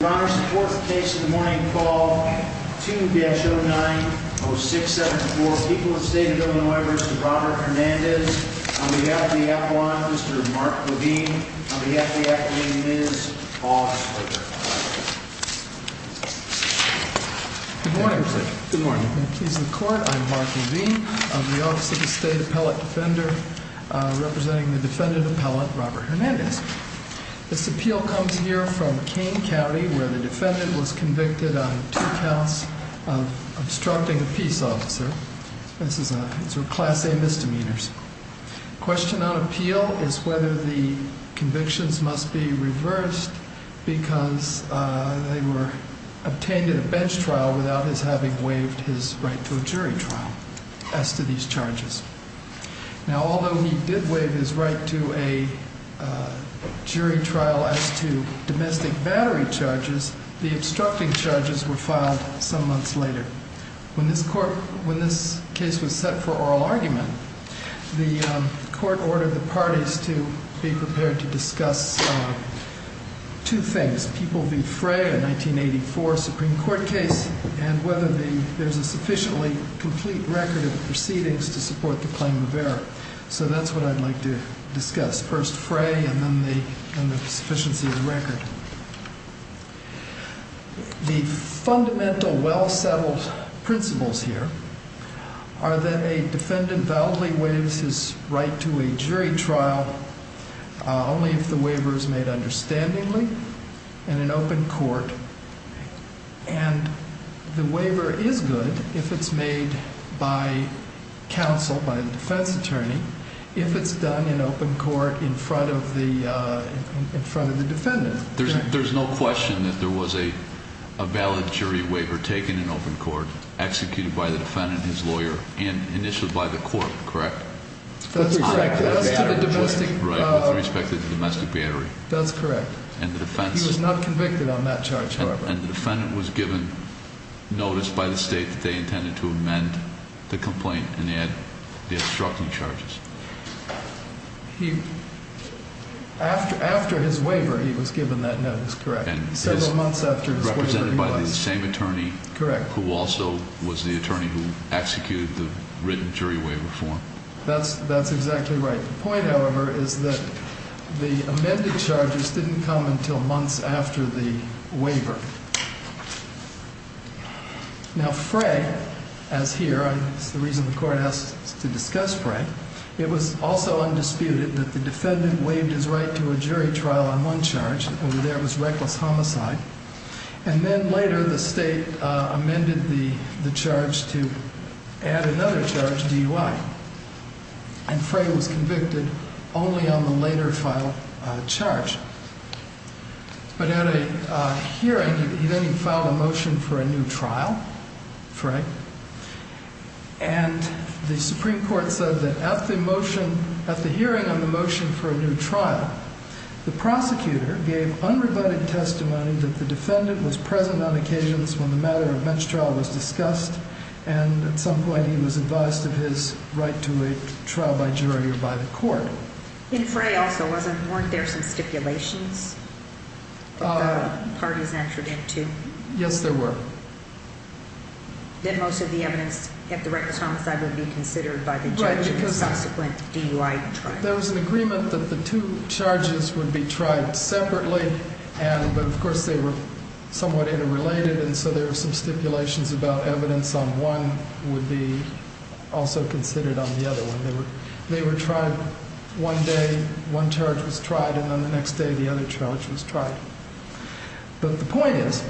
The fourth case in the morning call 2-09-0674, People of the State of Illinois v. Robert Hernandez. On behalf of the Appellant, Mr. Mark Levine. On behalf of the Academy, Ms. Paul Schroeder. Good morning, Mr. Chairman. Good morning. I'm Mark Levine of the Office of the State Appellate Defender, representing the Defendant Appellant, Robert Hernandez. This appeal comes here from Kane County, where the defendant was convicted on two counts of obstructing a peace officer. These are Class A misdemeanors. The question on appeal is whether the convictions must be reversed because they were obtained in a bench trial without his having waived his right to a jury trial as to these charges. Now, although he did waive his right to a jury trial as to domestic battery charges, the obstructing charges were filed some months later. When this case was set for oral argument, the Court ordered the parties to be prepared to discuss two things, People v. Fray, a 1984 Supreme Court case, and whether there's a sufficiently complete record of proceedings to support the claim of error. So that's what I'd like to discuss, first Fray and then the sufficiency of the record. The fundamental, well-settled principles here are that a defendant validly waives his right to a jury trial only if the waiver is made understandingly in an open court. And the waiver is good if it's made by counsel, by the defense attorney, if it's done in open court in front of the defendant. There's no question that there was a valid jury waiver taken in open court, executed by the defendant, his lawyer, and initiated by the court, correct? That's correct. With respect to the domestic battery. That's correct. He was not convicted on that charge, however. And the defendant was given notice by the state that they intended to amend the complaint and add the obstructing charges. After his waiver, he was given that notice, correct? Several months after his waiver, he was. Correct. Who also was the attorney who executed the written jury waiver for him. That's exactly right. The point, however, is that the amended charges didn't come until months after the waiver. Now, Frey, as here, and it's the reason the court asked to discuss Frey, it was also undisputed that the defendant waived his right to a jury trial on one charge, and over there it was reckless homicide. And then later the state amended the charge to add another charge, DUI. And Frey was convicted only on the later filed charge. But at a hearing, then he filed a motion for a new trial, Frey, and the Supreme Court said that at the motion, at the hearing on the motion for a new trial, the prosecutor gave unrebutted testimony that the defendant was present on occasions when the matter of bench trial was discussed, and at some point he was advised of his right to a trial by jury or by the court. In Frey also, weren't there some stipulations that the parties entered into? Yes, there were. Then most of the evidence at the reckless homicide would be considered by the judge in the subsequent DUI trial. There was an agreement that the two charges would be tried separately, but of course they were somewhat interrelated, and so there were some stipulations about evidence on one would be also considered on the other one. They were tried one day, one charge was tried, and then the next day the other charge was tried. But the point is,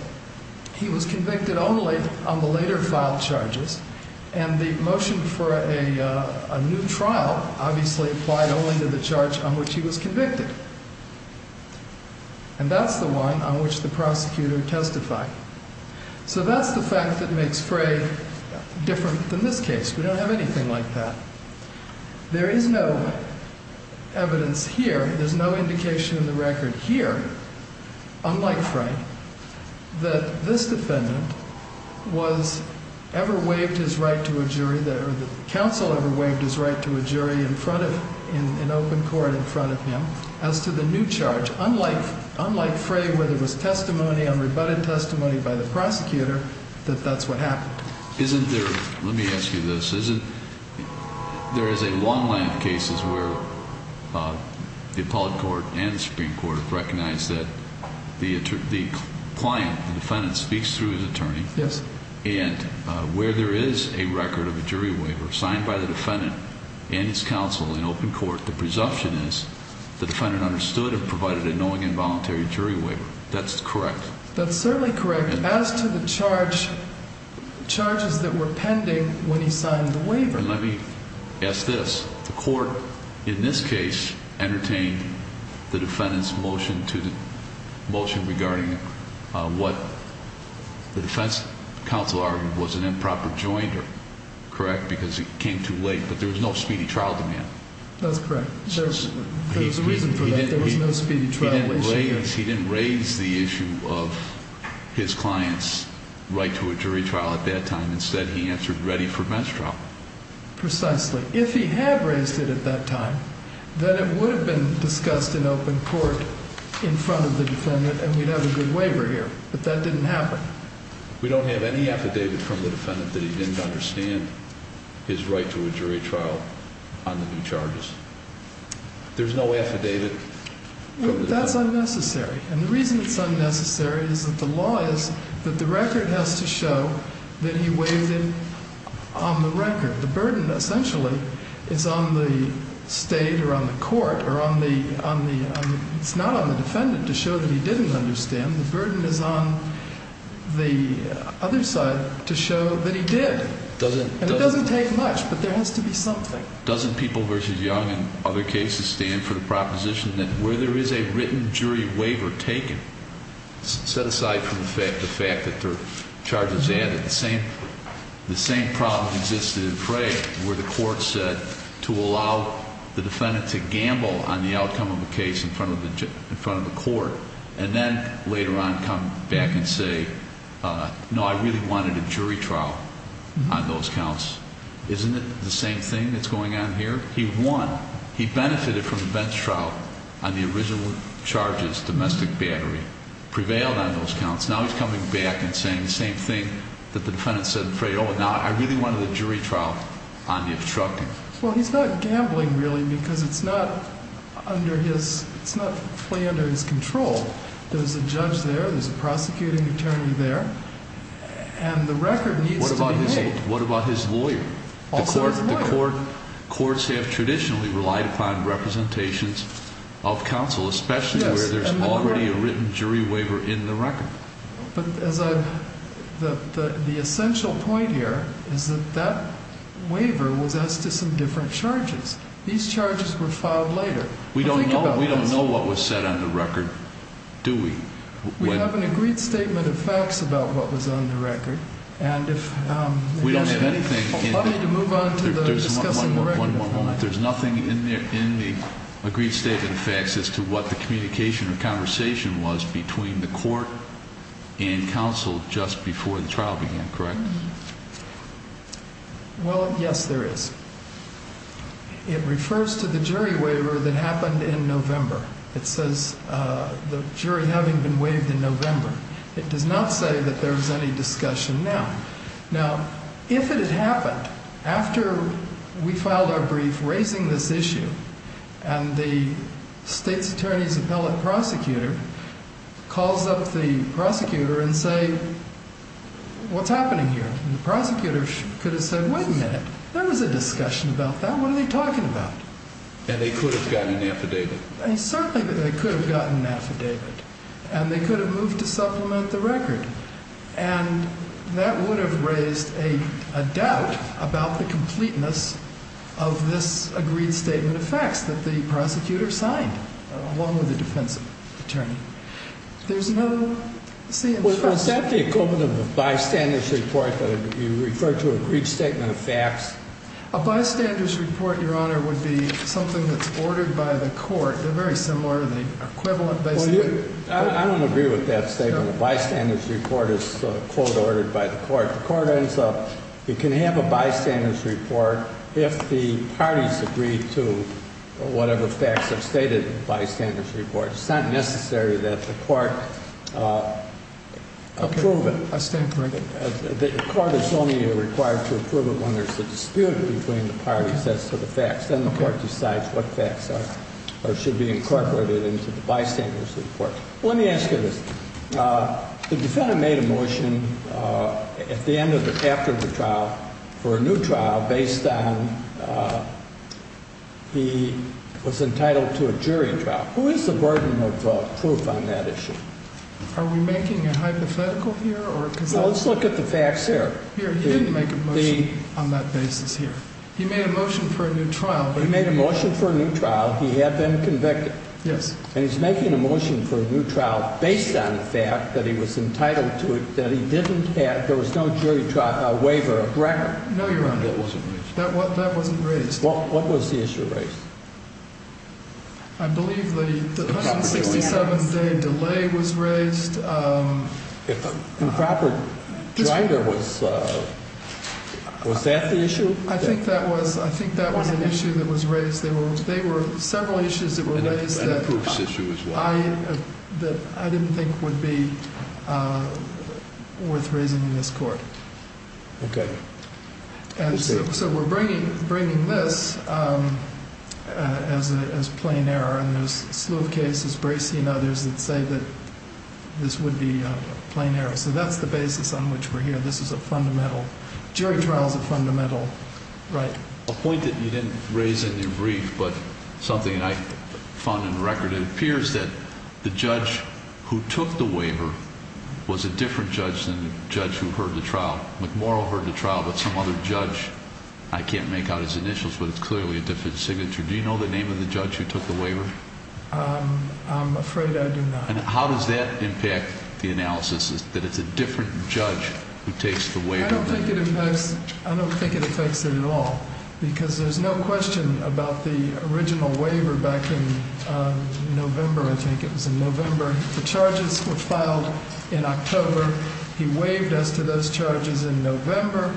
he was convicted only on the later filed charges, and the motion for a new trial obviously applied only to the charge on which he was convicted. And that's the one on which the prosecutor testified. So that's the fact that makes Frey different than this case. We don't have anything like that. There is no evidence here, there's no indication in the record here, unlike Frey, that this defendant was ever waived his right to a jury, or the counsel ever waived his right to a jury in open court in front of him, as to the new charge. Unlike Frey, where there was testimony, unrebutted testimony by the prosecutor, that that's what happened. Let me ask you this. There is a long line of cases where the appellate court and the Supreme Court have recognized that the client, the defendant, speaks through his attorney. Yes. And where there is a record of a jury waiver signed by the defendant and his counsel in open court, the presumption is the defendant understood and provided a knowing and voluntary jury waiver. That's correct. That's certainly correct. As to the charge, charges that were pending when he signed the waiver. Let me ask this. The court, in this case, entertained the defendant's motion regarding what the defense counsel argued was an improper joinder, correct, because it came too late, but there was no speedy trial demand. That's correct. There's a reason for that. There was no speedy trial. He didn't raise the issue of his client's right to a jury trial at that time. Instead, he answered ready for bench trial. Precisely. If he had raised it at that time, then it would have been discussed in open court in front of the defendant, and we'd have a good waiver here. But that didn't happen. We don't have any affidavit from the defendant that he didn't understand his right to a jury trial on the new charges. There's no affidavit from the defendant? That's unnecessary. And the reason it's unnecessary is that the law is that the record has to show that he waived it on the record. The burden, essentially, is on the state or on the court or on the ‑‑ it's not on the defendant to show that he didn't understand. The burden is on the other side to show that he did. And it doesn't take much, but there has to be something. Doesn't People v. Young and other cases stand for the proposition that where there is a written jury waiver taken, set aside from the fact that there are charges added, the same problem existed in Fray, where the court said to allow the defendant to gamble on the outcome of a case in front of the court, and then later on come back and say, no, I really wanted a jury trial on those counts. Isn't it the same thing that's going on here? He won. He benefited from the bench trial on the original charges, domestic battery, prevailed on those counts. Now he's coming back and saying the same thing that the defendant said in Fray. Oh, now I really wanted a jury trial on the obstructing. Well, he's not gambling, really, because it's not under his ‑‑ it's not fully under his control. There's a judge there, there's a prosecuting attorney there, and the record needs to be made. What about his lawyer? Also his lawyer. Courts have traditionally relied upon representations of counsel, especially where there's already a written jury waiver in the record. But as a ‑‑ the essential point here is that that waiver was as to some different charges. These charges were filed later. We don't know what was set on the record, do we? We have an agreed statement of facts about what was on the record, and if ‑‑ We don't have anything. Let me move on to discussing the record. One more moment. There's nothing in the agreed statement of facts as to what the communication or conversation was between the court and counsel just before the trial began, correct? Well, yes, there is. It refers to the jury waiver that happened in November. It says the jury having been waived in November. It does not say that there was any discussion now. Now, if it had happened after we filed our brief raising this issue and the state's attorney's appellate prosecutor calls up the prosecutor and say, what's happening here? And the prosecutor could have said, wait a minute, there was a discussion about that. What are they talking about? And they could have gotten an affidavit. Certainly they could have gotten an affidavit. And they could have moved to supplement the record. And that would have raised a doubt about the completeness of this agreed statement of facts that the prosecutor signed along with the defense attorney. There's no ‑‑ Well, is that the equivalent of a bystander's report that you refer to an agreed statement of facts? A bystander's report, Your Honor, would be something that's ordered by the court. They're very similar in the equivalent, basically. I don't agree with that statement. A bystander's report is a quote ordered by the court. The court ends up, you can have a bystander's report if the parties agree to whatever facts are stated in the bystander's report. It's not necessary that the court approve it. I stand corrected. The court is only required to approve it when there's a dispute between the parties as to the facts. Then the court decides what facts are or should be incorporated into the bystander's report. Let me ask you this. The defendant made a motion at the end of the ‑‑ after the trial for a new trial based on he was entitled to a jury trial. Who is the burden of proof on that issue? Are we making a hypothetical here? Let's look at the facts here. He didn't make a motion on that basis here. He made a motion for a new trial. He made a motion for a new trial. He had been convicted. Yes. And he's making a motion for a new trial based on the fact that he was entitled to it, that he didn't have ‑‑ there was no jury waiver of record. No, Your Honor. That wasn't raised. That wasn't raised. What was the issue raised? I believe the 167‑day delay was raised. If improper driver was ‑‑ was that the issue? I think that was an issue that was raised. There were several issues that were raised that I didn't think would be worth raising in this court. Okay. So we're bringing this as plain error, and there's a slew of cases, Bracey and others, that say that this would be plain error. So that's the basis on which we're here. This is a fundamental ‑‑ jury trial is a fundamental right. A point that you didn't raise in your brief, but something I found in the record, it appears that the judge who took the waiver was a different judge than the judge who heard the trial. McMorrill heard the trial, but some other judge. I can't make out his initials, but it's clearly a different signature. Do you know the name of the judge who took the waiver? I'm afraid I do not. And how does that impact the analysis, that it's a different judge who takes the waiver? I don't think it impacts ‑‑ I don't think it affects it at all, because there's no question about the original waiver back in November, I think. It was in November. The charges were filed in October. He waived us to those charges in November.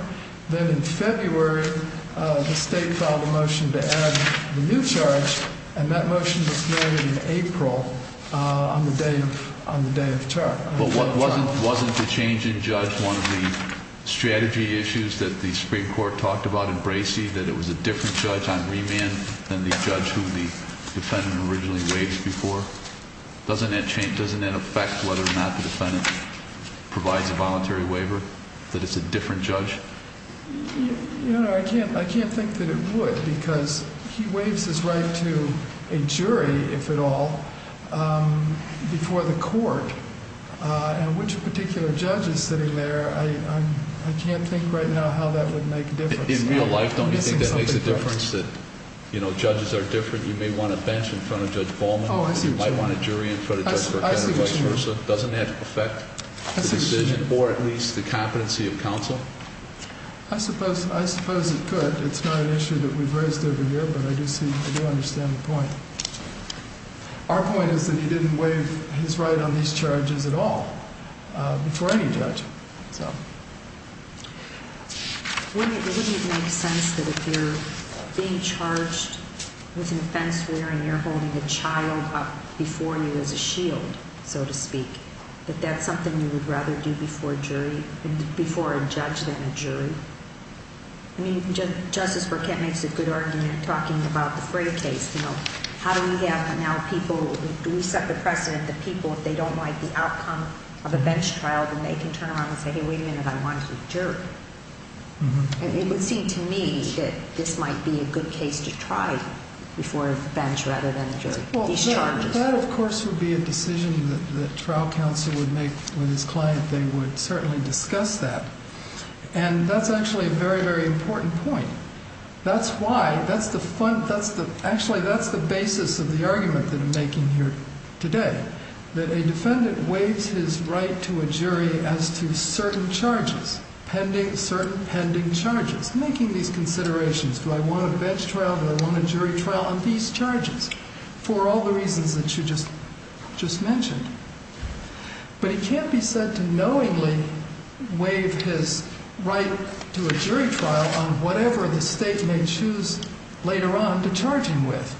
Then in February, the state filed a motion to add the new charge, and that motion was made in April on the day of the trial. But wasn't the change in judge one of the strategy issues that the Supreme Court talked about in Bracey, that it was a different judge on remand than the judge who the defendant originally waived before? Doesn't that affect whether or not the defendant provides a voluntary waiver, that it's a different judge? I can't think that it would, because he waives his right to a jury, if at all, before the court. And which particular judge is sitting there, I can't think right now how that would make a difference. In real life, don't you think that makes a difference, that judges are different? You may want a bench in front of Judge Ballman. You might want a jury in front of Judge Burkett or vice versa. Doesn't that affect the decision, or at least the competency of counsel? I suppose it could. It's not an issue that we've raised over here, but I do understand the point. Our point is that he didn't waive his right on these charges at all before any judge. Wouldn't it make sense that if you're being charged with an offense wherein you're holding a child up before you as a shield, so to speak, that that's something you would rather do before a judge than a jury? I mean, Justice Burkett makes a good argument talking about the Fray case. How do we have now people, do we set the precedent that people, if they don't like the outcome of a bench trial, then they can turn around and say, hey, wait a minute, I want to be a jury? And it would seem to me that this might be a good case to try before a bench rather than a jury, these charges. That, of course, would be a decision that trial counsel would make with his client. They would certainly discuss that. And that's actually a very, very important point. That's why, that's the, actually that's the basis of the argument that I'm making here today, that a defendant waives his right to a jury as to certain charges, certain pending charges, making these considerations. Do I want a bench trial? Do I want a jury trial? On these charges, for all the reasons that you just mentioned. But he can't be said to knowingly waive his right to a jury trial on whatever the state may choose later on to charge him with.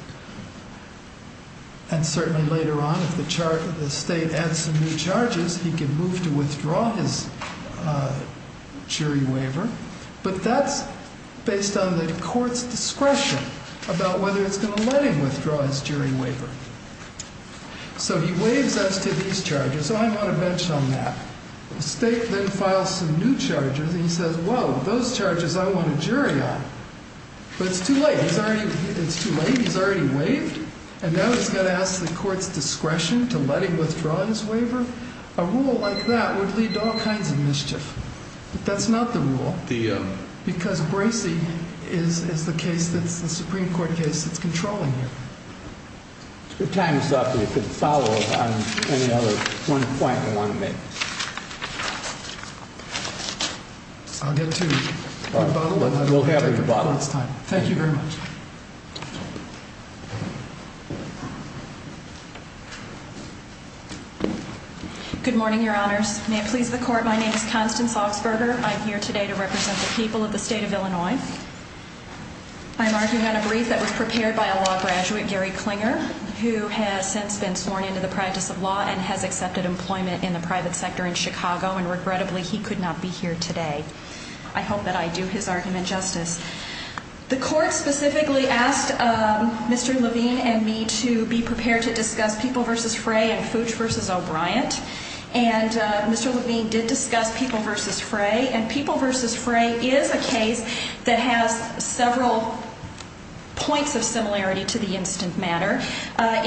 And certainly later on, if the state adds some new charges, he can move to withdraw his jury waiver. But that's based on the court's discretion about whether it's going to let him withdraw his jury waiver. So he waives as to these charges. So I want a bench on that. The state then files some new charges and he says, whoa, those charges I want a jury on. But it's too late. It's too late. He's already waived. And now he's going to ask the court's discretion to let him withdraw his waiver? A rule like that would lead to all kinds of mischief. But that's not the rule. Because Bracey is the case that's the Supreme Court case that's controlling him. Your time is up. You can follow up on any other point you want to make. I'll get to my bottle. We'll have your bottle. Thank you very much. Good morning, Your Honors. May it please the Court, my name is Constance Augsburger. I'm here today to represent the people of the state of Illinois. I'm arguing on a brief that was prepared by a law graduate, Gary Klinger, who has since been sworn into the practice of law and has accepted employment in the private sector in Chicago. And regrettably, he could not be here today. I hope that I do his argument justice. The court specifically asked Mr. Levine and me to be prepared to discuss People v. Frey and Fooch v. O'Brien. And Mr. Levine did discuss People v. Frey. And People v. Frey is a case that has several points of similarity to the instant matter.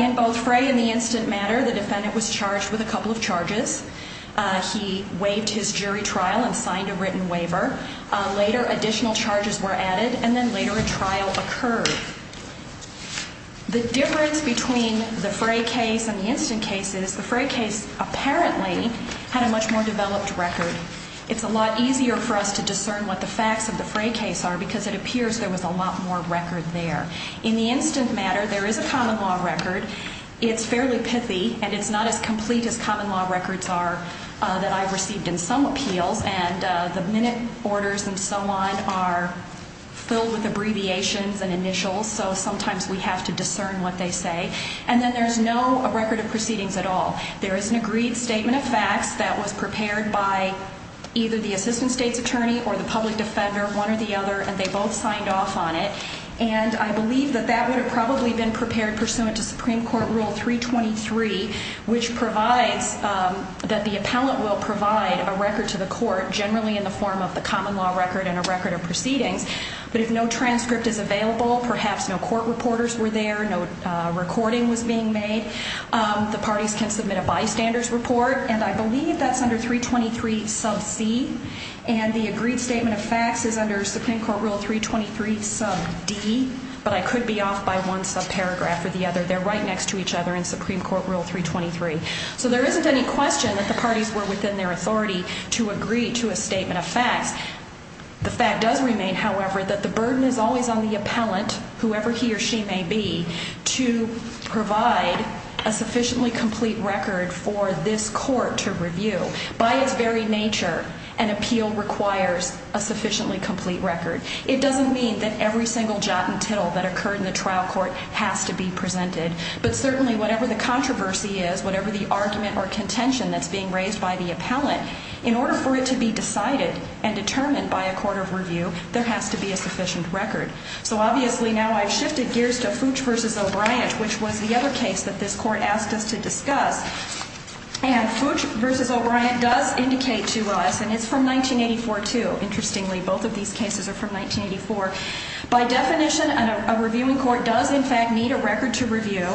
In both Frey and the instant matter, the defendant was charged with a couple of charges. He waived his jury trial and signed a written waiver. Later, additional charges were added. And then later a trial occurred. The difference between the Frey case and the instant case is the Frey case apparently had a much more developed record. It's a lot easier for us to discern what the facts of the Frey case are because it appears there was a lot more record there. In the instant matter, there is a common law record. It's fairly pithy, and it's not as complete as common law records are that I've received in some appeals. And the minute orders and so on are filled with abbreviations and initials, so sometimes we have to discern what they say. And then there's no record of proceedings at all. There is an agreed statement of facts that was prepared by either the assistant state's attorney or the public defender, one or the other. And they both signed off on it. And I believe that that would have probably been prepared pursuant to Supreme Court Rule 323, which provides that the appellant will provide a record to the court generally in the form of the common law record and a record of proceedings. But if no transcript is available, perhaps no court reporters were there, no recording was being made, the parties can submit a bystander's report. And I believe that's under 323 sub c. And the agreed statement of facts is under Supreme Court Rule 323 sub d. But I could be off by one subparagraph or the other. They're right next to each other in Supreme Court Rule 323. So there isn't any question that the parties were within their authority to agree to a statement of facts. The fact does remain, however, that the burden is always on the appellant, whoever he or she may be, to provide a sufficiently complete record for this court to review. By its very nature, an appeal requires a sufficiently complete record. It doesn't mean that every single jot and tittle that occurred in the trial court has to be presented. But certainly, whatever the controversy is, whatever the argument or contention that's being raised by the appellant, in order for it to be decided and determined by a court of review, there has to be a sufficient record. So obviously, now I've shifted gears to Fooch v. O'Brien, which was the other case that this court asked us to discuss. And Fooch v. O'Brien does indicate to us, and it's from 1984, too, interestingly. Both of these cases are from 1984. By definition, a reviewing court does, in fact, need a record to review.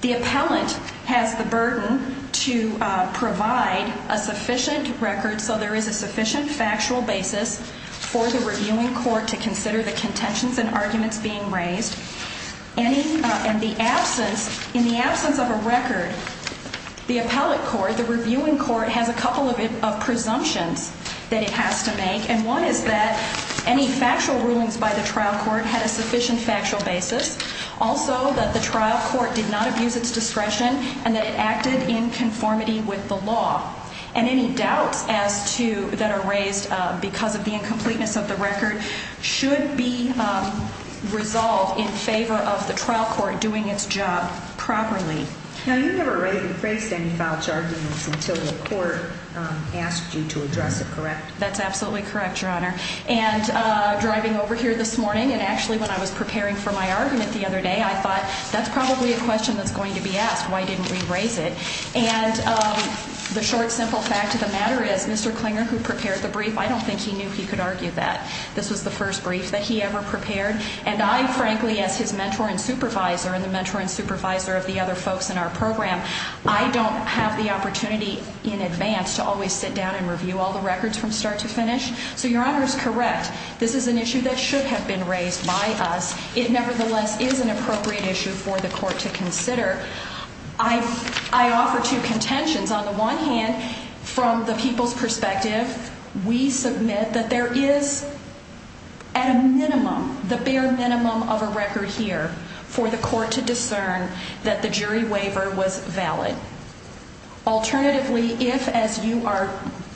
The appellant has the burden to provide a sufficient record, so there is a sufficient factual basis for the reviewing court to consider the contentions and arguments being raised. In the absence of a record, the appellate court, the reviewing court, has a couple of presumptions that it has to make. And one is that any factual rulings by the trial court had a sufficient factual basis. Also, that the trial court did not abuse its discretion and that it acted in conformity with the law. And any doubts that are raised because of the incompleteness of the record should be resolved in favor of the trial court doing its job properly. Now, you never raised any false arguments until the court asked you to address it, correct? And driving over here this morning, and actually when I was preparing for my argument the other day, I thought, that's probably a question that's going to be asked, why didn't we raise it? And the short, simple fact of the matter is, Mr. Klinger, who prepared the brief, I don't think he knew he could argue that. This was the first brief that he ever prepared. And I, frankly, as his mentor and supervisor and the mentor and supervisor of the other folks in our program, I don't have the opportunity in advance to always sit down and review all the records from start to finish. So your Honor is correct. This is an issue that should have been raised by us. It nevertheless is an appropriate issue for the court to consider. I offer two contentions. On the one hand, from the people's perspective, we submit that there is, at a minimum, the bare minimum of a record here for the court to discern that the jury waiver was valid. Alternatively, if, as you are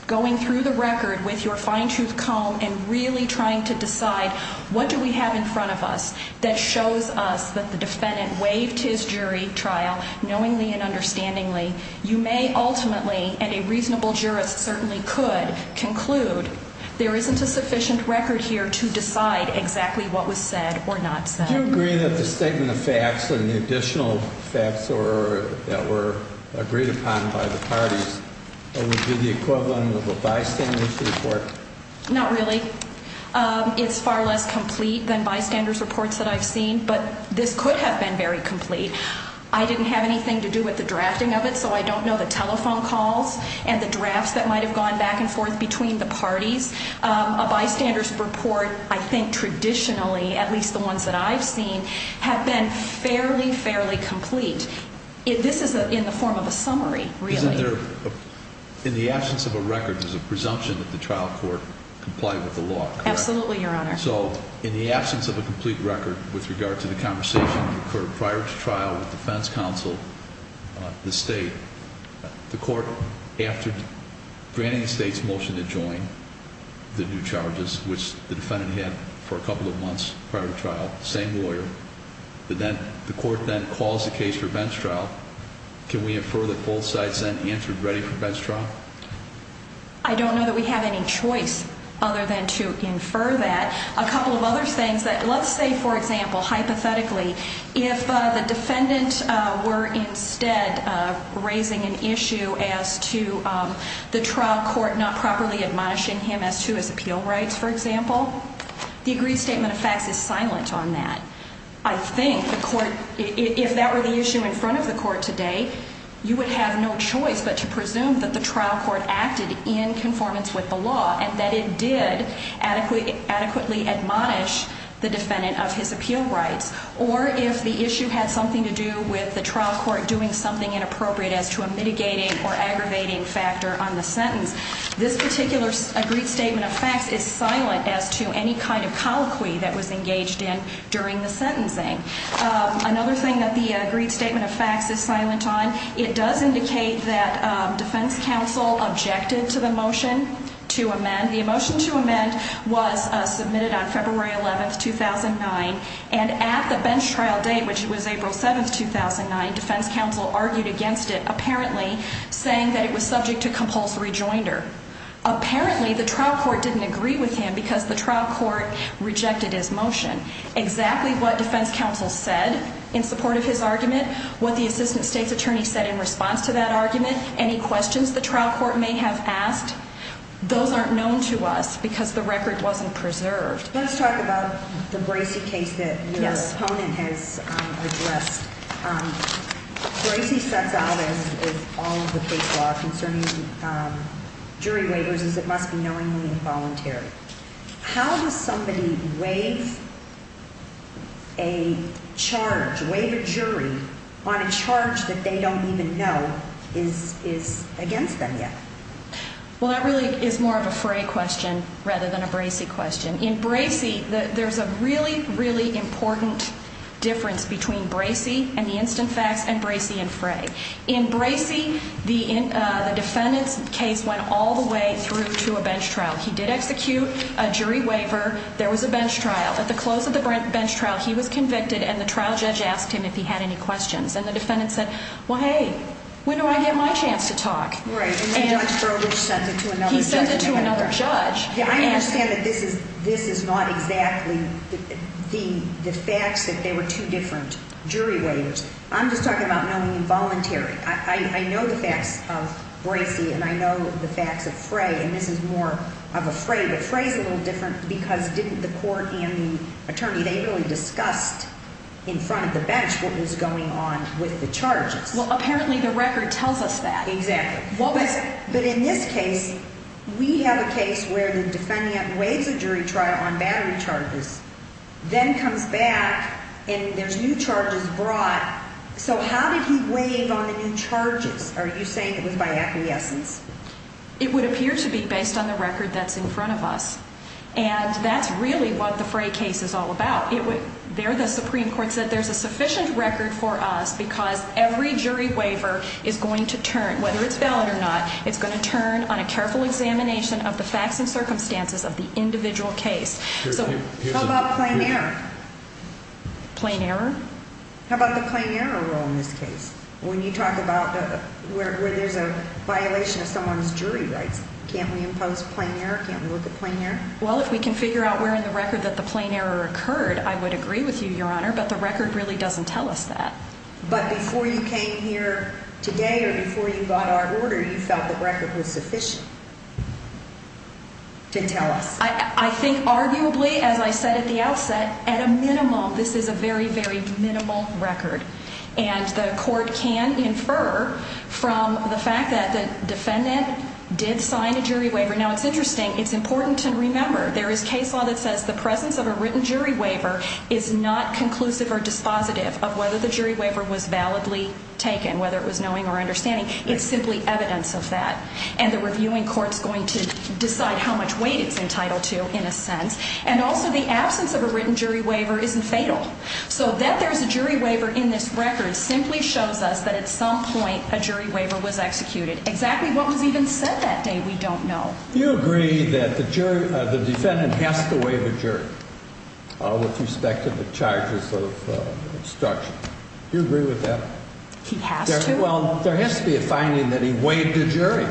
going through the record with your fine-tooth comb and really trying to decide what do we have in front of us that shows us that the defendant waived his jury trial, knowingly and understandingly, you may ultimately, and a reasonable jurist certainly could, conclude there isn't a sufficient record here to decide exactly what was said or not said. Do you agree that the statement of facts and the additional facts that were agreed upon by the parties would be the equivalent of a bystander's report? Not really. It's far less complete than bystander's reports that I've seen, but this could have been very complete. I didn't have anything to do with the drafting of it, so I don't know the telephone calls and the drafts that might have gone back and forth between the parties. A bystander's report, I think traditionally, at least the ones that I've seen, have been fairly, fairly complete. This is in the form of a summary, really. In the absence of a record, there's a presumption that the trial court complied with the law, correct? Absolutely, Your Honor. So in the absence of a complete record with regard to the conversation that occurred prior to trial with the defense counsel, the state, the court, after granting the state's motion to join the new charges, which the defendant had for a couple of months prior to trial, same lawyer, the court then calls the case for bench trial. Can we infer that both sides then answered ready for bench trial? I don't know that we have any choice other than to infer that. A couple of other things, let's say, for example, hypothetically, if the defendant were instead raising an issue as to the trial court not properly admonishing him as to his appeal rights, for example, the agreed statement of facts is silent on that. I think the court, if that were the issue in front of the court today, you would have no choice but to presume that the trial court acted in conformance with the law and that it did adequately admonish the defendant of his appeal rights. Or if the issue had something to do with the trial court doing something inappropriate as to a mitigating or aggravating factor on the sentence, this particular agreed statement of facts is silent as to any kind of colloquy that was engaged in during the sentencing. Another thing that the agreed statement of facts is silent on, it does indicate that defense counsel objected to the motion to amend. The motion to amend was submitted on February 11, 2009, and at the bench trial date, which was April 7, 2009, defense counsel argued against it, apparently saying that it was subject to compulsory joinder. Apparently, the trial court didn't agree with him because the trial court rejected his motion. Exactly what defense counsel said in support of his argument, what the assistant state's attorney said in response to that argument, any questions the trial court may have asked, those aren't known to us because the record wasn't preserved. Let's talk about the Bracey case that your opponent has addressed. Bracey sets out, as all of the case law concerning jury waivers, is it must be knowingly involuntary. How does somebody waive a charge, waive a jury on a charge that they don't even know is against them yet? Well, that really is more of a Fray question rather than a Bracey question. In Bracey, there's a really, really important difference between Bracey and the instant facts and Bracey and Fray. In Bracey, the defendant's case went all the way through to a bench trial. He did execute a jury waiver. There was a bench trial. At the close of the bench trial, he was convicted, and the trial judge asked him if he had any questions. And the defendant said, well, hey, when do I get my chance to talk? Right. And then Judge Broderick sent it to another judge. He sent it to another judge. I understand that this is not exactly the facts that they were two different jury waivers. I'm just talking about knowingly involuntary. I know the facts of Bracey, and I know the facts of Fray. And this is more of a Fray, but Fray is a little different because didn't the court and the attorney, they really discussed in front of the bench what was going on with the charges. Well, apparently the record tells us that. Exactly. But in this case, we have a case where the defendant waives a jury trial on battery charges, then comes back, and there's new charges brought. So how did he waive on the new charges? Are you saying it was by acquiescence? It would appear to be based on the record that's in front of us. And that's really what the Fray case is all about. There the Supreme Court said there's a sufficient record for us because every jury waiver is going to turn, whether it's valid or not, it's going to turn on a careful examination of the facts and circumstances of the individual case. So how about plain error? Plain error? How about the plain error rule in this case? When you talk about where there's a violation of someone's jury rights, can't we impose plain error? Can't we look at plain error? Well, if we can figure out where in the record that the plain error occurred, I would agree with you, Your Honor, but the record really doesn't tell us that. But before you came here today or before you got our order, you felt the record was sufficient to tell us. I think arguably, as I said at the outset, at a minimum, this is a very, very minimal record. And the court can infer from the fact that the defendant did sign a jury waiver. Now, it's interesting. It's important to remember there is case law that says the presence of a written jury waiver is not conclusive or dispositive of whether the jury waiver was validly taken, whether it was knowing or understanding. It's simply evidence of that. And the reviewing court is going to decide how much weight it's entitled to, in a sense. And also the absence of a written jury waiver isn't fatal. So that there's a jury waiver in this record simply shows us that at some point a jury waiver was executed. Exactly what was even said that day, we don't know. You agree that the defendant has to waive a jury with respect to the charges of obstruction. Do you agree with that? He has to? Well, there has to be a finding that he waived a jury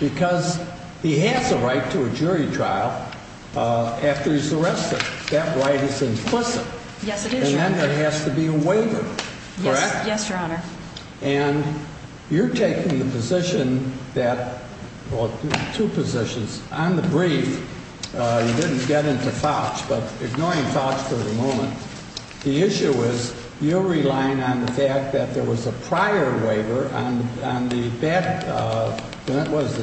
because he has a right to a jury trial after he's arrested. That right is implicit. Yes, it is, Your Honor. And then there has to be a waiver. Correct? Yes, Your Honor. And you're taking the position that, well, two positions. On the brief, you didn't get into Fauch, but ignoring Fauch for the moment, the issue was you're relying on the fact that there was a prior waiver on the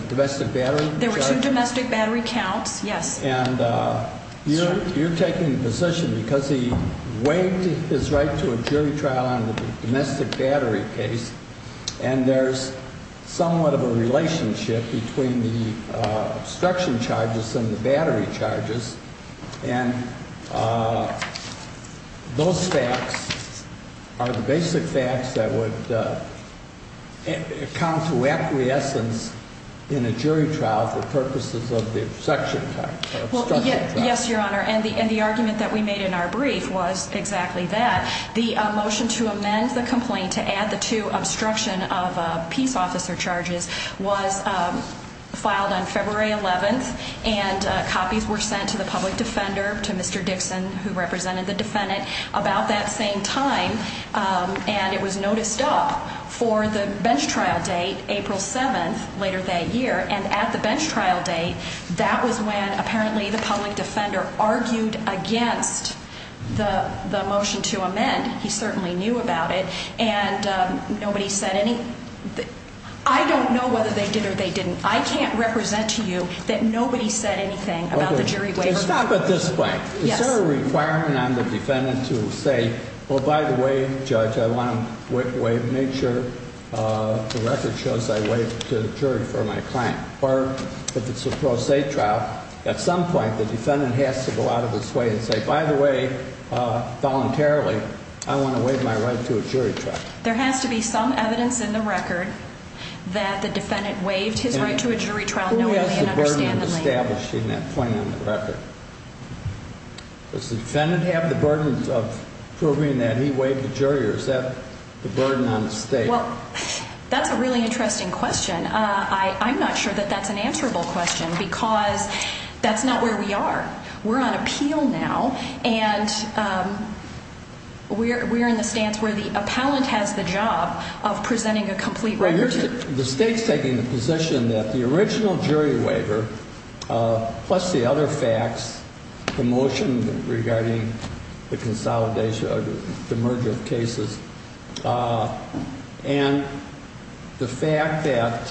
domestic battery charge. There were two domestic battery counts, yes. And you're taking the position because he waived his right to a jury trial on the domestic battery case, and there's somewhat of a relationship between the obstruction charges and the battery charges. And those facts are the basic facts that would come to acquiescence in a jury trial for purposes of the obstruction charges. Yes, Your Honor. And the argument that we made in our brief was exactly that. The motion to amend the complaint to add the two obstruction of peace officer charges was filed on February 11th, and copies were sent to the public defender, to Mr. Dixon, who represented the defendant, about that same time. And it was noticed up for the bench trial date, April 7th, later that year. And at the bench trial date, that was when apparently the public defender argued against the motion to amend. He certainly knew about it. And nobody said anything. I don't know whether they did or they didn't. I can't represent to you that nobody said anything about the jury waiver. Stop at this point. Yes. Is there a requirement on the defendant to say, well, by the way, Judge, I want to make sure the record shows I waived to the jury for my client? Or if it's a pro se trial, at some point the defendant has to go out of its way and say, by the way, voluntarily, I want to waive my right to a jury trial. There has to be some evidence in the record that the defendant waived his right to a jury trial knowingly and understandably. Who has the burden of establishing that claim in the record? Does the defendant have the burden of proving that he waived the jury, or is that the burden on the state? Well, that's a really interesting question. I'm not sure that that's an answerable question because that's not where we are. We're on appeal now, and we're in the stance where the appellant has the job of presenting a complete record. The state's taking the position that the original jury waiver, plus the other facts, the motion regarding the consolidation or the merger of cases, and the fact that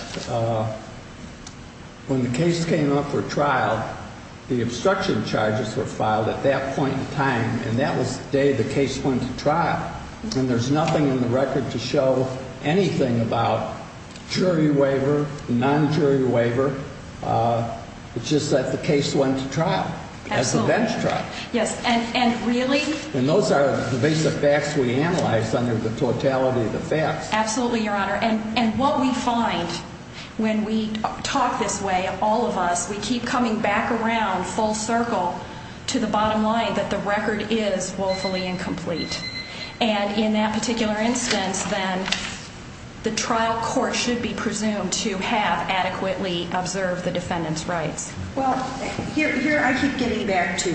when the case came up for trial, the obstruction charges were filed at that point in time, and that was the day the case went to trial. And there's nothing in the record to show anything about jury waiver, non-jury waiver. It's just that the case went to trial as a bench trial. Yes, and really? And those are the basic facts we analyzed under the totality of the facts. Absolutely, Your Honor. And what we find when we talk this way, all of us, we keep coming back around full circle to the bottom line that the record is woefully incomplete. And in that particular instance, then, the trial court should be presumed to have adequately observed the defendant's rights. Well, here I keep getting back to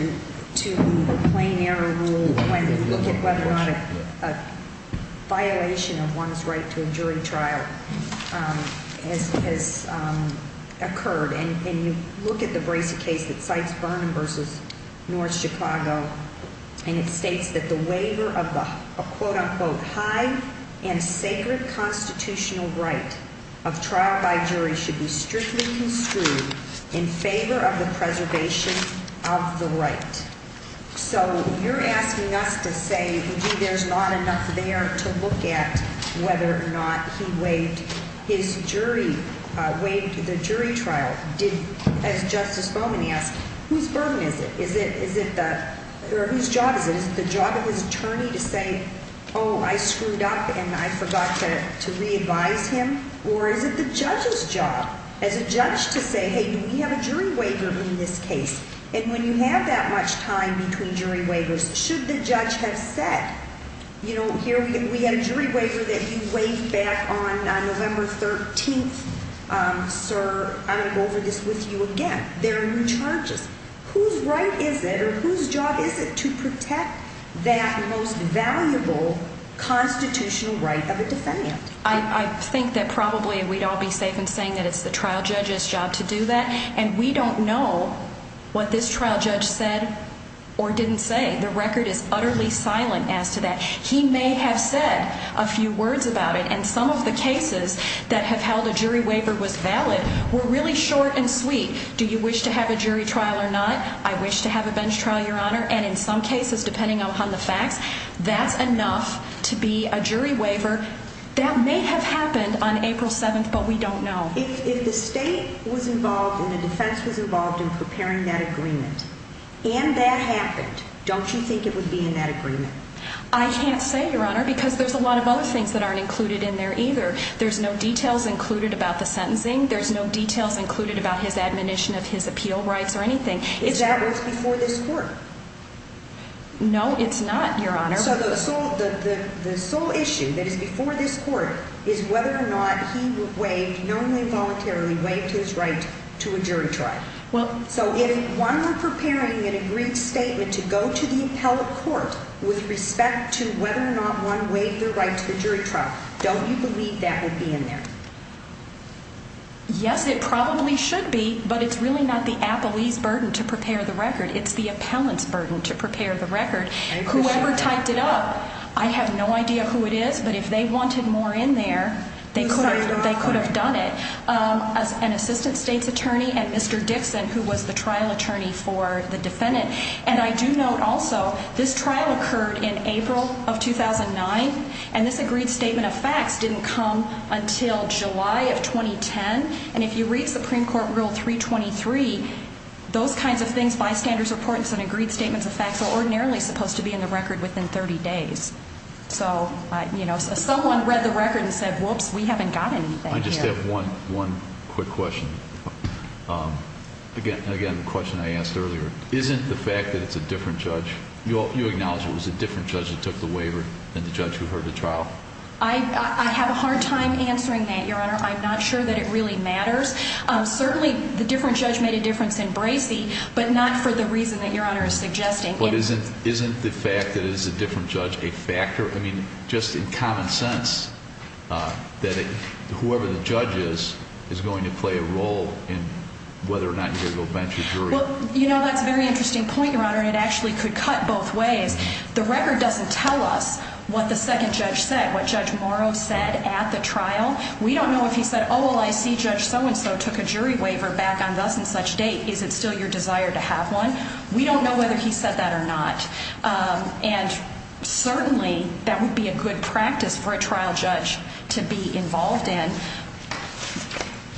the plain error rule when you look at whether or not a violation of one's right to a jury trial has occurred. And you look at the Bracey case that cites Vernon v. North Chicago, and it states that the waiver of the, quote-unquote, high and sacred constitutional right of trial by jury should be strictly construed in favor of the preservation of the right. So you're asking us to say, gee, there's not enough there to look at whether or not he waived his jury, waived the jury trial. Did, as Justice Bowman asked, whose burden is it? Is it the, or whose job is it? Is it the job of his attorney to say, oh, I screwed up and I forgot to re-advise him? Or is it the judge's job as a judge to say, hey, do we have a jury waiver in this case? And when you have that much time between jury waivers, should the judge have said, you know, here we had a jury waiver that you waived back on November 13th. Sir, I'm going to go over this with you again. There are new charges. Whose right is it or whose job is it to protect that most valuable constitutional right of a defendant? I think that probably we'd all be safe in saying that it's the trial judge's job to do that. And we don't know what this trial judge said or didn't say. The record is utterly silent as to that. He may have said a few words about it. And some of the cases that have held a jury waiver was valid were really short and sweet. Do you wish to have a jury trial or not? I wish to have a bench trial, Your Honor. And in some cases, depending on the facts, that's enough to be a jury waiver. That may have happened on April 7th, but we don't know. If the state was involved and the defense was involved in preparing that agreement and that happened, don't you think it would be in that agreement? I can't say, Your Honor, because there's a lot of other things that aren't included in there either. There's no details included about the sentencing. There's no details included about his admonition of his appeal rights or anything. Is that what's before this court? No, it's not, Your Honor. So the sole issue that is before this court is whether or not he waived, knowingly or voluntarily, waived his right to a jury trial. So if one were preparing an agreed statement to go to the appellate court with respect to whether or not one waived their right to the jury trial, don't you believe that would be in there? Yes, it probably should be, but it's really not the appellee's burden to prepare the record. It's the appellant's burden to prepare the record. Whoever typed it up, I have no idea who it is, but if they wanted more in there, they could have done it. An assistant state's attorney and Mr. Dixon, who was the trial attorney for the defendant. And I do note also this trial occurred in April of 2009, and this agreed statement of facts didn't come until July of 2010. And if you read Supreme Court Rule 323, those kinds of things, bystanders' reportants and agreed statements of facts, are ordinarily supposed to be in the record within 30 days. So, you know, someone read the record and said, whoops, we haven't got anything here. I just have one quick question. Again, the question I asked earlier, isn't the fact that it's a different judge, you acknowledge it was a different judge that took the waiver than the judge who heard the trial? I have a hard time answering that, Your Honor. I'm not sure that it really matters. Certainly, the different judge made a difference in Bracey, but not for the reason that Your Honor is suggesting. But isn't the fact that it is a different judge a factor? I mean, just in common sense, that whoever the judge is, is going to play a role in whether or not you get to go bench or jury. Well, you know, that's a very interesting point, Your Honor, and it actually could cut both ways. The record doesn't tell us what the second judge said, what Judge Morrow said at the trial. We don't know if he said, oh, well, I see Judge so-and-so took a jury waiver back on thus and such date. Is it still your desire to have one? We don't know whether he said that or not. And certainly, that would be a good practice for a trial judge to be involved in.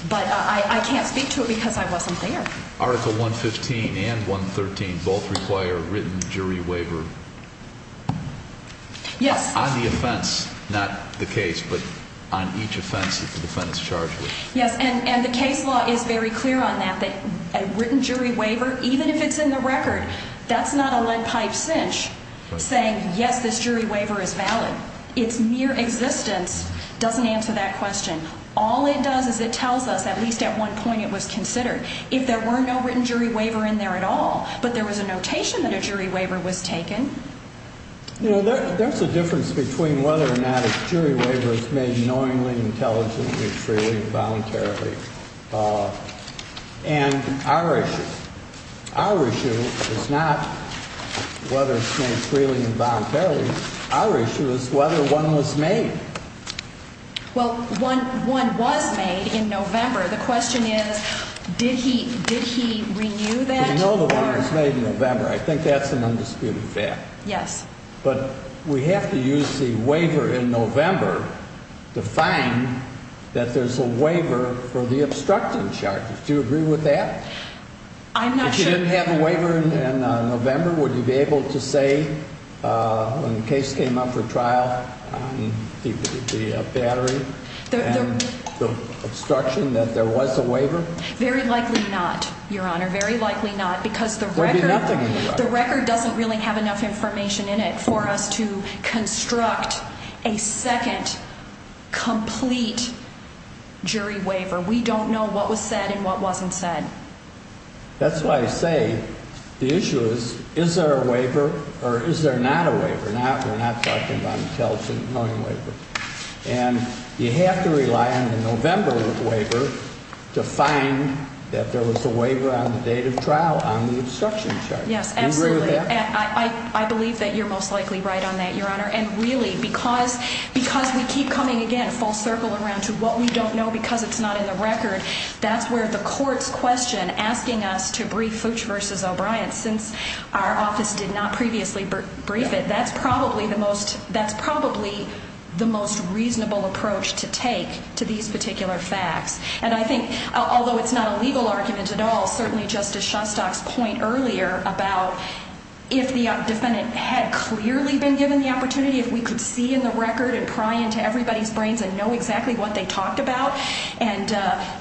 But I can't speak to it because I wasn't there. Article 115 and 113 both require a written jury waiver. Yes. On the offense, not the case, but on each offense that the defendant is charged with. Yes, and the case law is very clear on that, that a written jury waiver, even if it's in the record, that's not a lead pipe cinch saying, yes, this jury waiver is valid. Its mere existence doesn't answer that question. All it does is it tells us at least at one point it was considered. If there were no written jury waiver in there at all, but there was a notation that a jury waiver was taken. You know, there's a difference between whether or not a jury waiver is made knowingly, intelligently, freely, and voluntarily. And our issue, our issue is not whether it's made freely and voluntarily. Our issue is whether one was made. Well, one was made in November. The question is, did he renew that? We know the one was made in November. I think that's an undisputed fact. Yes. But we have to use the waiver in November to find that there's a waiver for the obstructing charges. Do you agree with that? I'm not sure. If you didn't have a waiver in November, would you be able to say when the case came up for trial, the battery and the obstruction that there was a waiver? Very likely not, Your Honor. Very likely not because the record doesn't really have enough information in it for us to construct a second complete jury waiver. We don't know what was said and what wasn't said. That's why I say the issue is, is there a waiver or is there not a waiver? We're not talking about an intelligent knowing waiver. And you have to rely on the November waiver to find that there was a waiver on the date of trial on the obstruction charge. Yes, absolutely. Do you agree with that? I believe that you're most likely right on that, Your Honor. And really, because we keep coming, again, full circle around to what we don't know because it's not in the record, that's where the court's question asking us to brief Fooch v. O'Brien, since our office did not previously brief it, that's probably the most reasonable approach to take to these particular facts. And I think, although it's not a legal argument at all, certainly Justice Shostak's point earlier about if the defendant had clearly been given the opportunity, if we could see in the record and pry into everybody's brains and know exactly what they talked about, and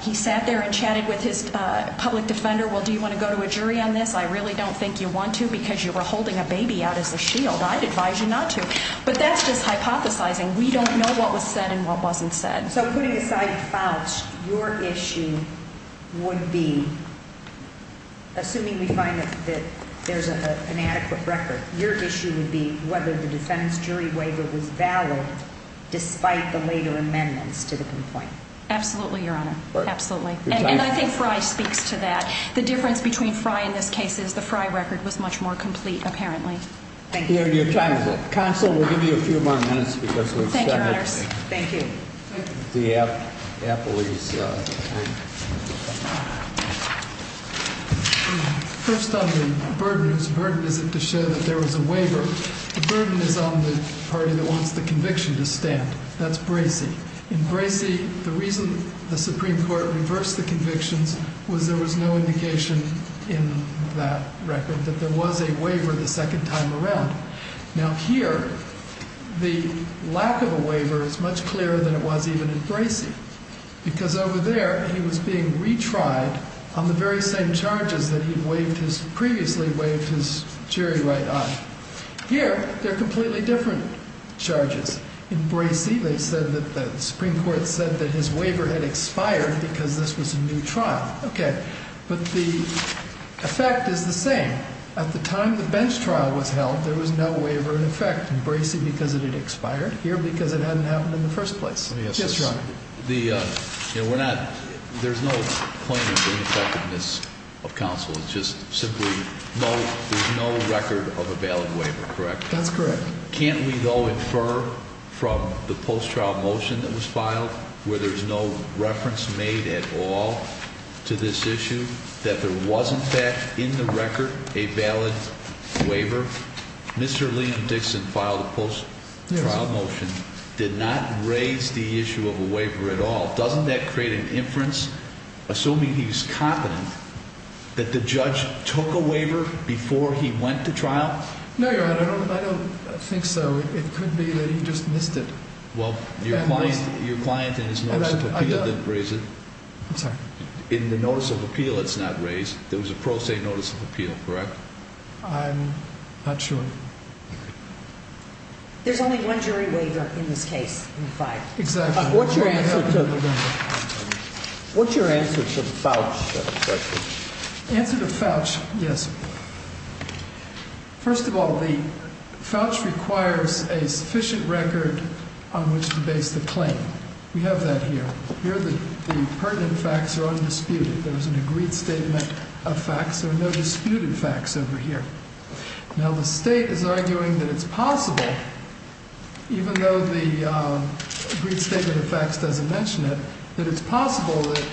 he sat there and chatted with his public defender, well, do you want to go to a jury on this? I really don't think you want to because you were holding a baby out as a shield. I'd advise you not to. But that's just hypothesizing. We don't know what was said and what wasn't said. So putting aside Fooch, your issue would be, assuming we find that there's an adequate record, your issue would be whether the defendant's jury waiver was valid despite the later amendments to the complaint. Absolutely, Your Honor. Absolutely. And I think Frye speaks to that. The difference between Frye in this case is the Frye record was much more complete, apparently. Thank you. Your time is up. Counsel, we'll give you a few more minutes. Thank you, Your Honors. Thank you. The appellee's turn. First on the burden, whose burden is it to show that there was a waiver? The burden is on the party that wants the conviction to stand. That's Bracey. In Bracey, the reason the Supreme Court reversed the convictions was there was no indication in that record that there was a waiver the second time around. Now, here, the lack of a waiver is much clearer than it was even in Bracey, because over there, he was being retried on the very same charges that he'd previously waived his jury right on. Here, they're completely different charges. In Bracey, they said that the Supreme Court said that his waiver had expired because this was a new trial. Okay. But the effect is the same. At the time the bench trial was held, there was no waiver in effect in Bracey because it had expired. Here, because it hadn't happened in the first place. Let me ask this. Yes, Your Honor. There's no point in the effectiveness of counsel. It's just simply there's no record of a valid waiver, correct? That's correct. Can't we, though, infer from the post-trial motion that was filed, where there's no reference made at all to this issue, that there was, in fact, in the record, a valid waiver? Mr. Liam Dixon filed a post-trial motion, did not raise the issue of a waiver at all. Doesn't that create an inference, assuming he's confident, that the judge took a waiver before he went to trial? No, Your Honor. I don't think so. It could be that he just missed it. Well, your client in his notice of appeal didn't raise it. I'm sorry. In the notice of appeal, it's not raised. There was a pro se notice of appeal, correct? I'm not sure. There's only one jury waiver in this case, in fact. Exactly. What's your answer to the voucher question? The answer to the voucher, yes. First of all, the voucher requires a sufficient record on which to base the claim. We have that here. Here, the pertinent facts are undisputed. There's an agreed statement of facts. There are no disputed facts over here. Now, the State is arguing that it's possible, even though the agreed statement of facts doesn't mention it, that it's possible that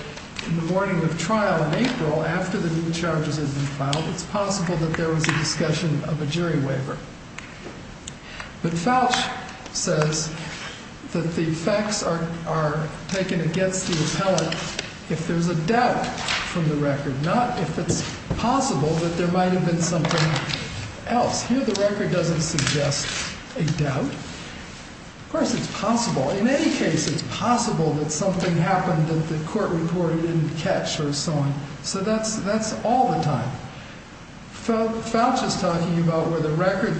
in the morning of trial in April, after the new charges had been filed, it's possible that there was a discussion of a jury waiver. But Falch says that the facts are taken against the appellant if there's a doubt from the record, not if it's possible that there might have been something else. Here, the record doesn't suggest a doubt. Of course, it's possible. In any case, it's possible that something happened that the court reported didn't catch or so on. So that's all the time. Falch is talking about where the record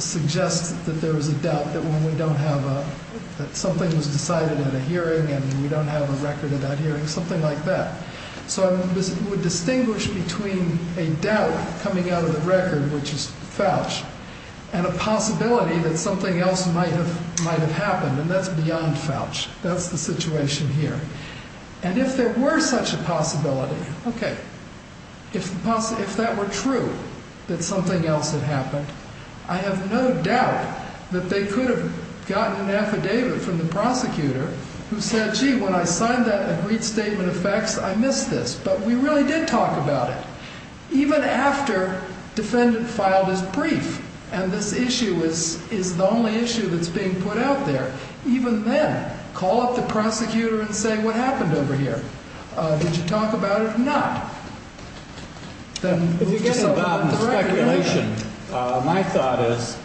suggests that there was a doubt that something was decided at a hearing and we don't have a record of that hearing, something like that. So I would distinguish between a doubt coming out of the record, which is Falch, and a possibility that something else might have happened, and that's beyond Falch. That's the situation here. And if there were such a possibility, okay, if that were true, that something else had happened, I have no doubt that they could have gotten an affidavit from the prosecutor who said, gee, when I signed that agreed statement of facts, I missed this. But we really did talk about it. Even after defendant filed his brief, and this issue is the only issue that's being put out there, even then, call up the prosecutor and say, what happened over here? Did you talk about it? Not. If you get involved in the speculation, my thought is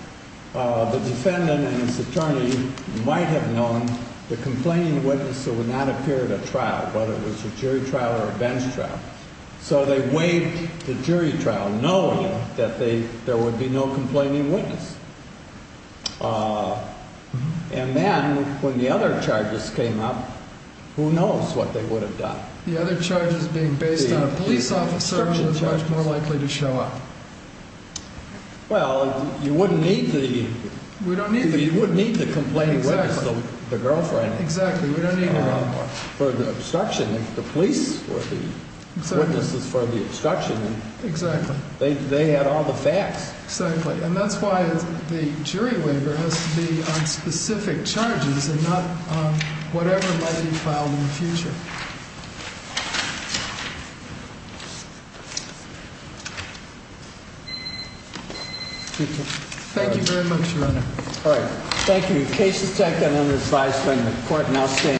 the defendant and his attorney might have known the complaining witness who would not appear at a trial, whether it was a jury trial or a bench trial. So they waived the jury trial knowing that there would be no complaining witness. And then when the other charges came up, who knows what they would have done. The other charges being based on a police officer was much more likely to show up. Well, you wouldn't need the complaining witness, the girlfriend, for the obstruction. The police were the witnesses for the obstruction. Exactly. They had all the facts. Exactly. And that's why the jury waiver has to be on specific charges and not whatever might be filed in the future. Thank you very much, Your Honor. All right. Thank you. The case is taken under advisory and the court now stands.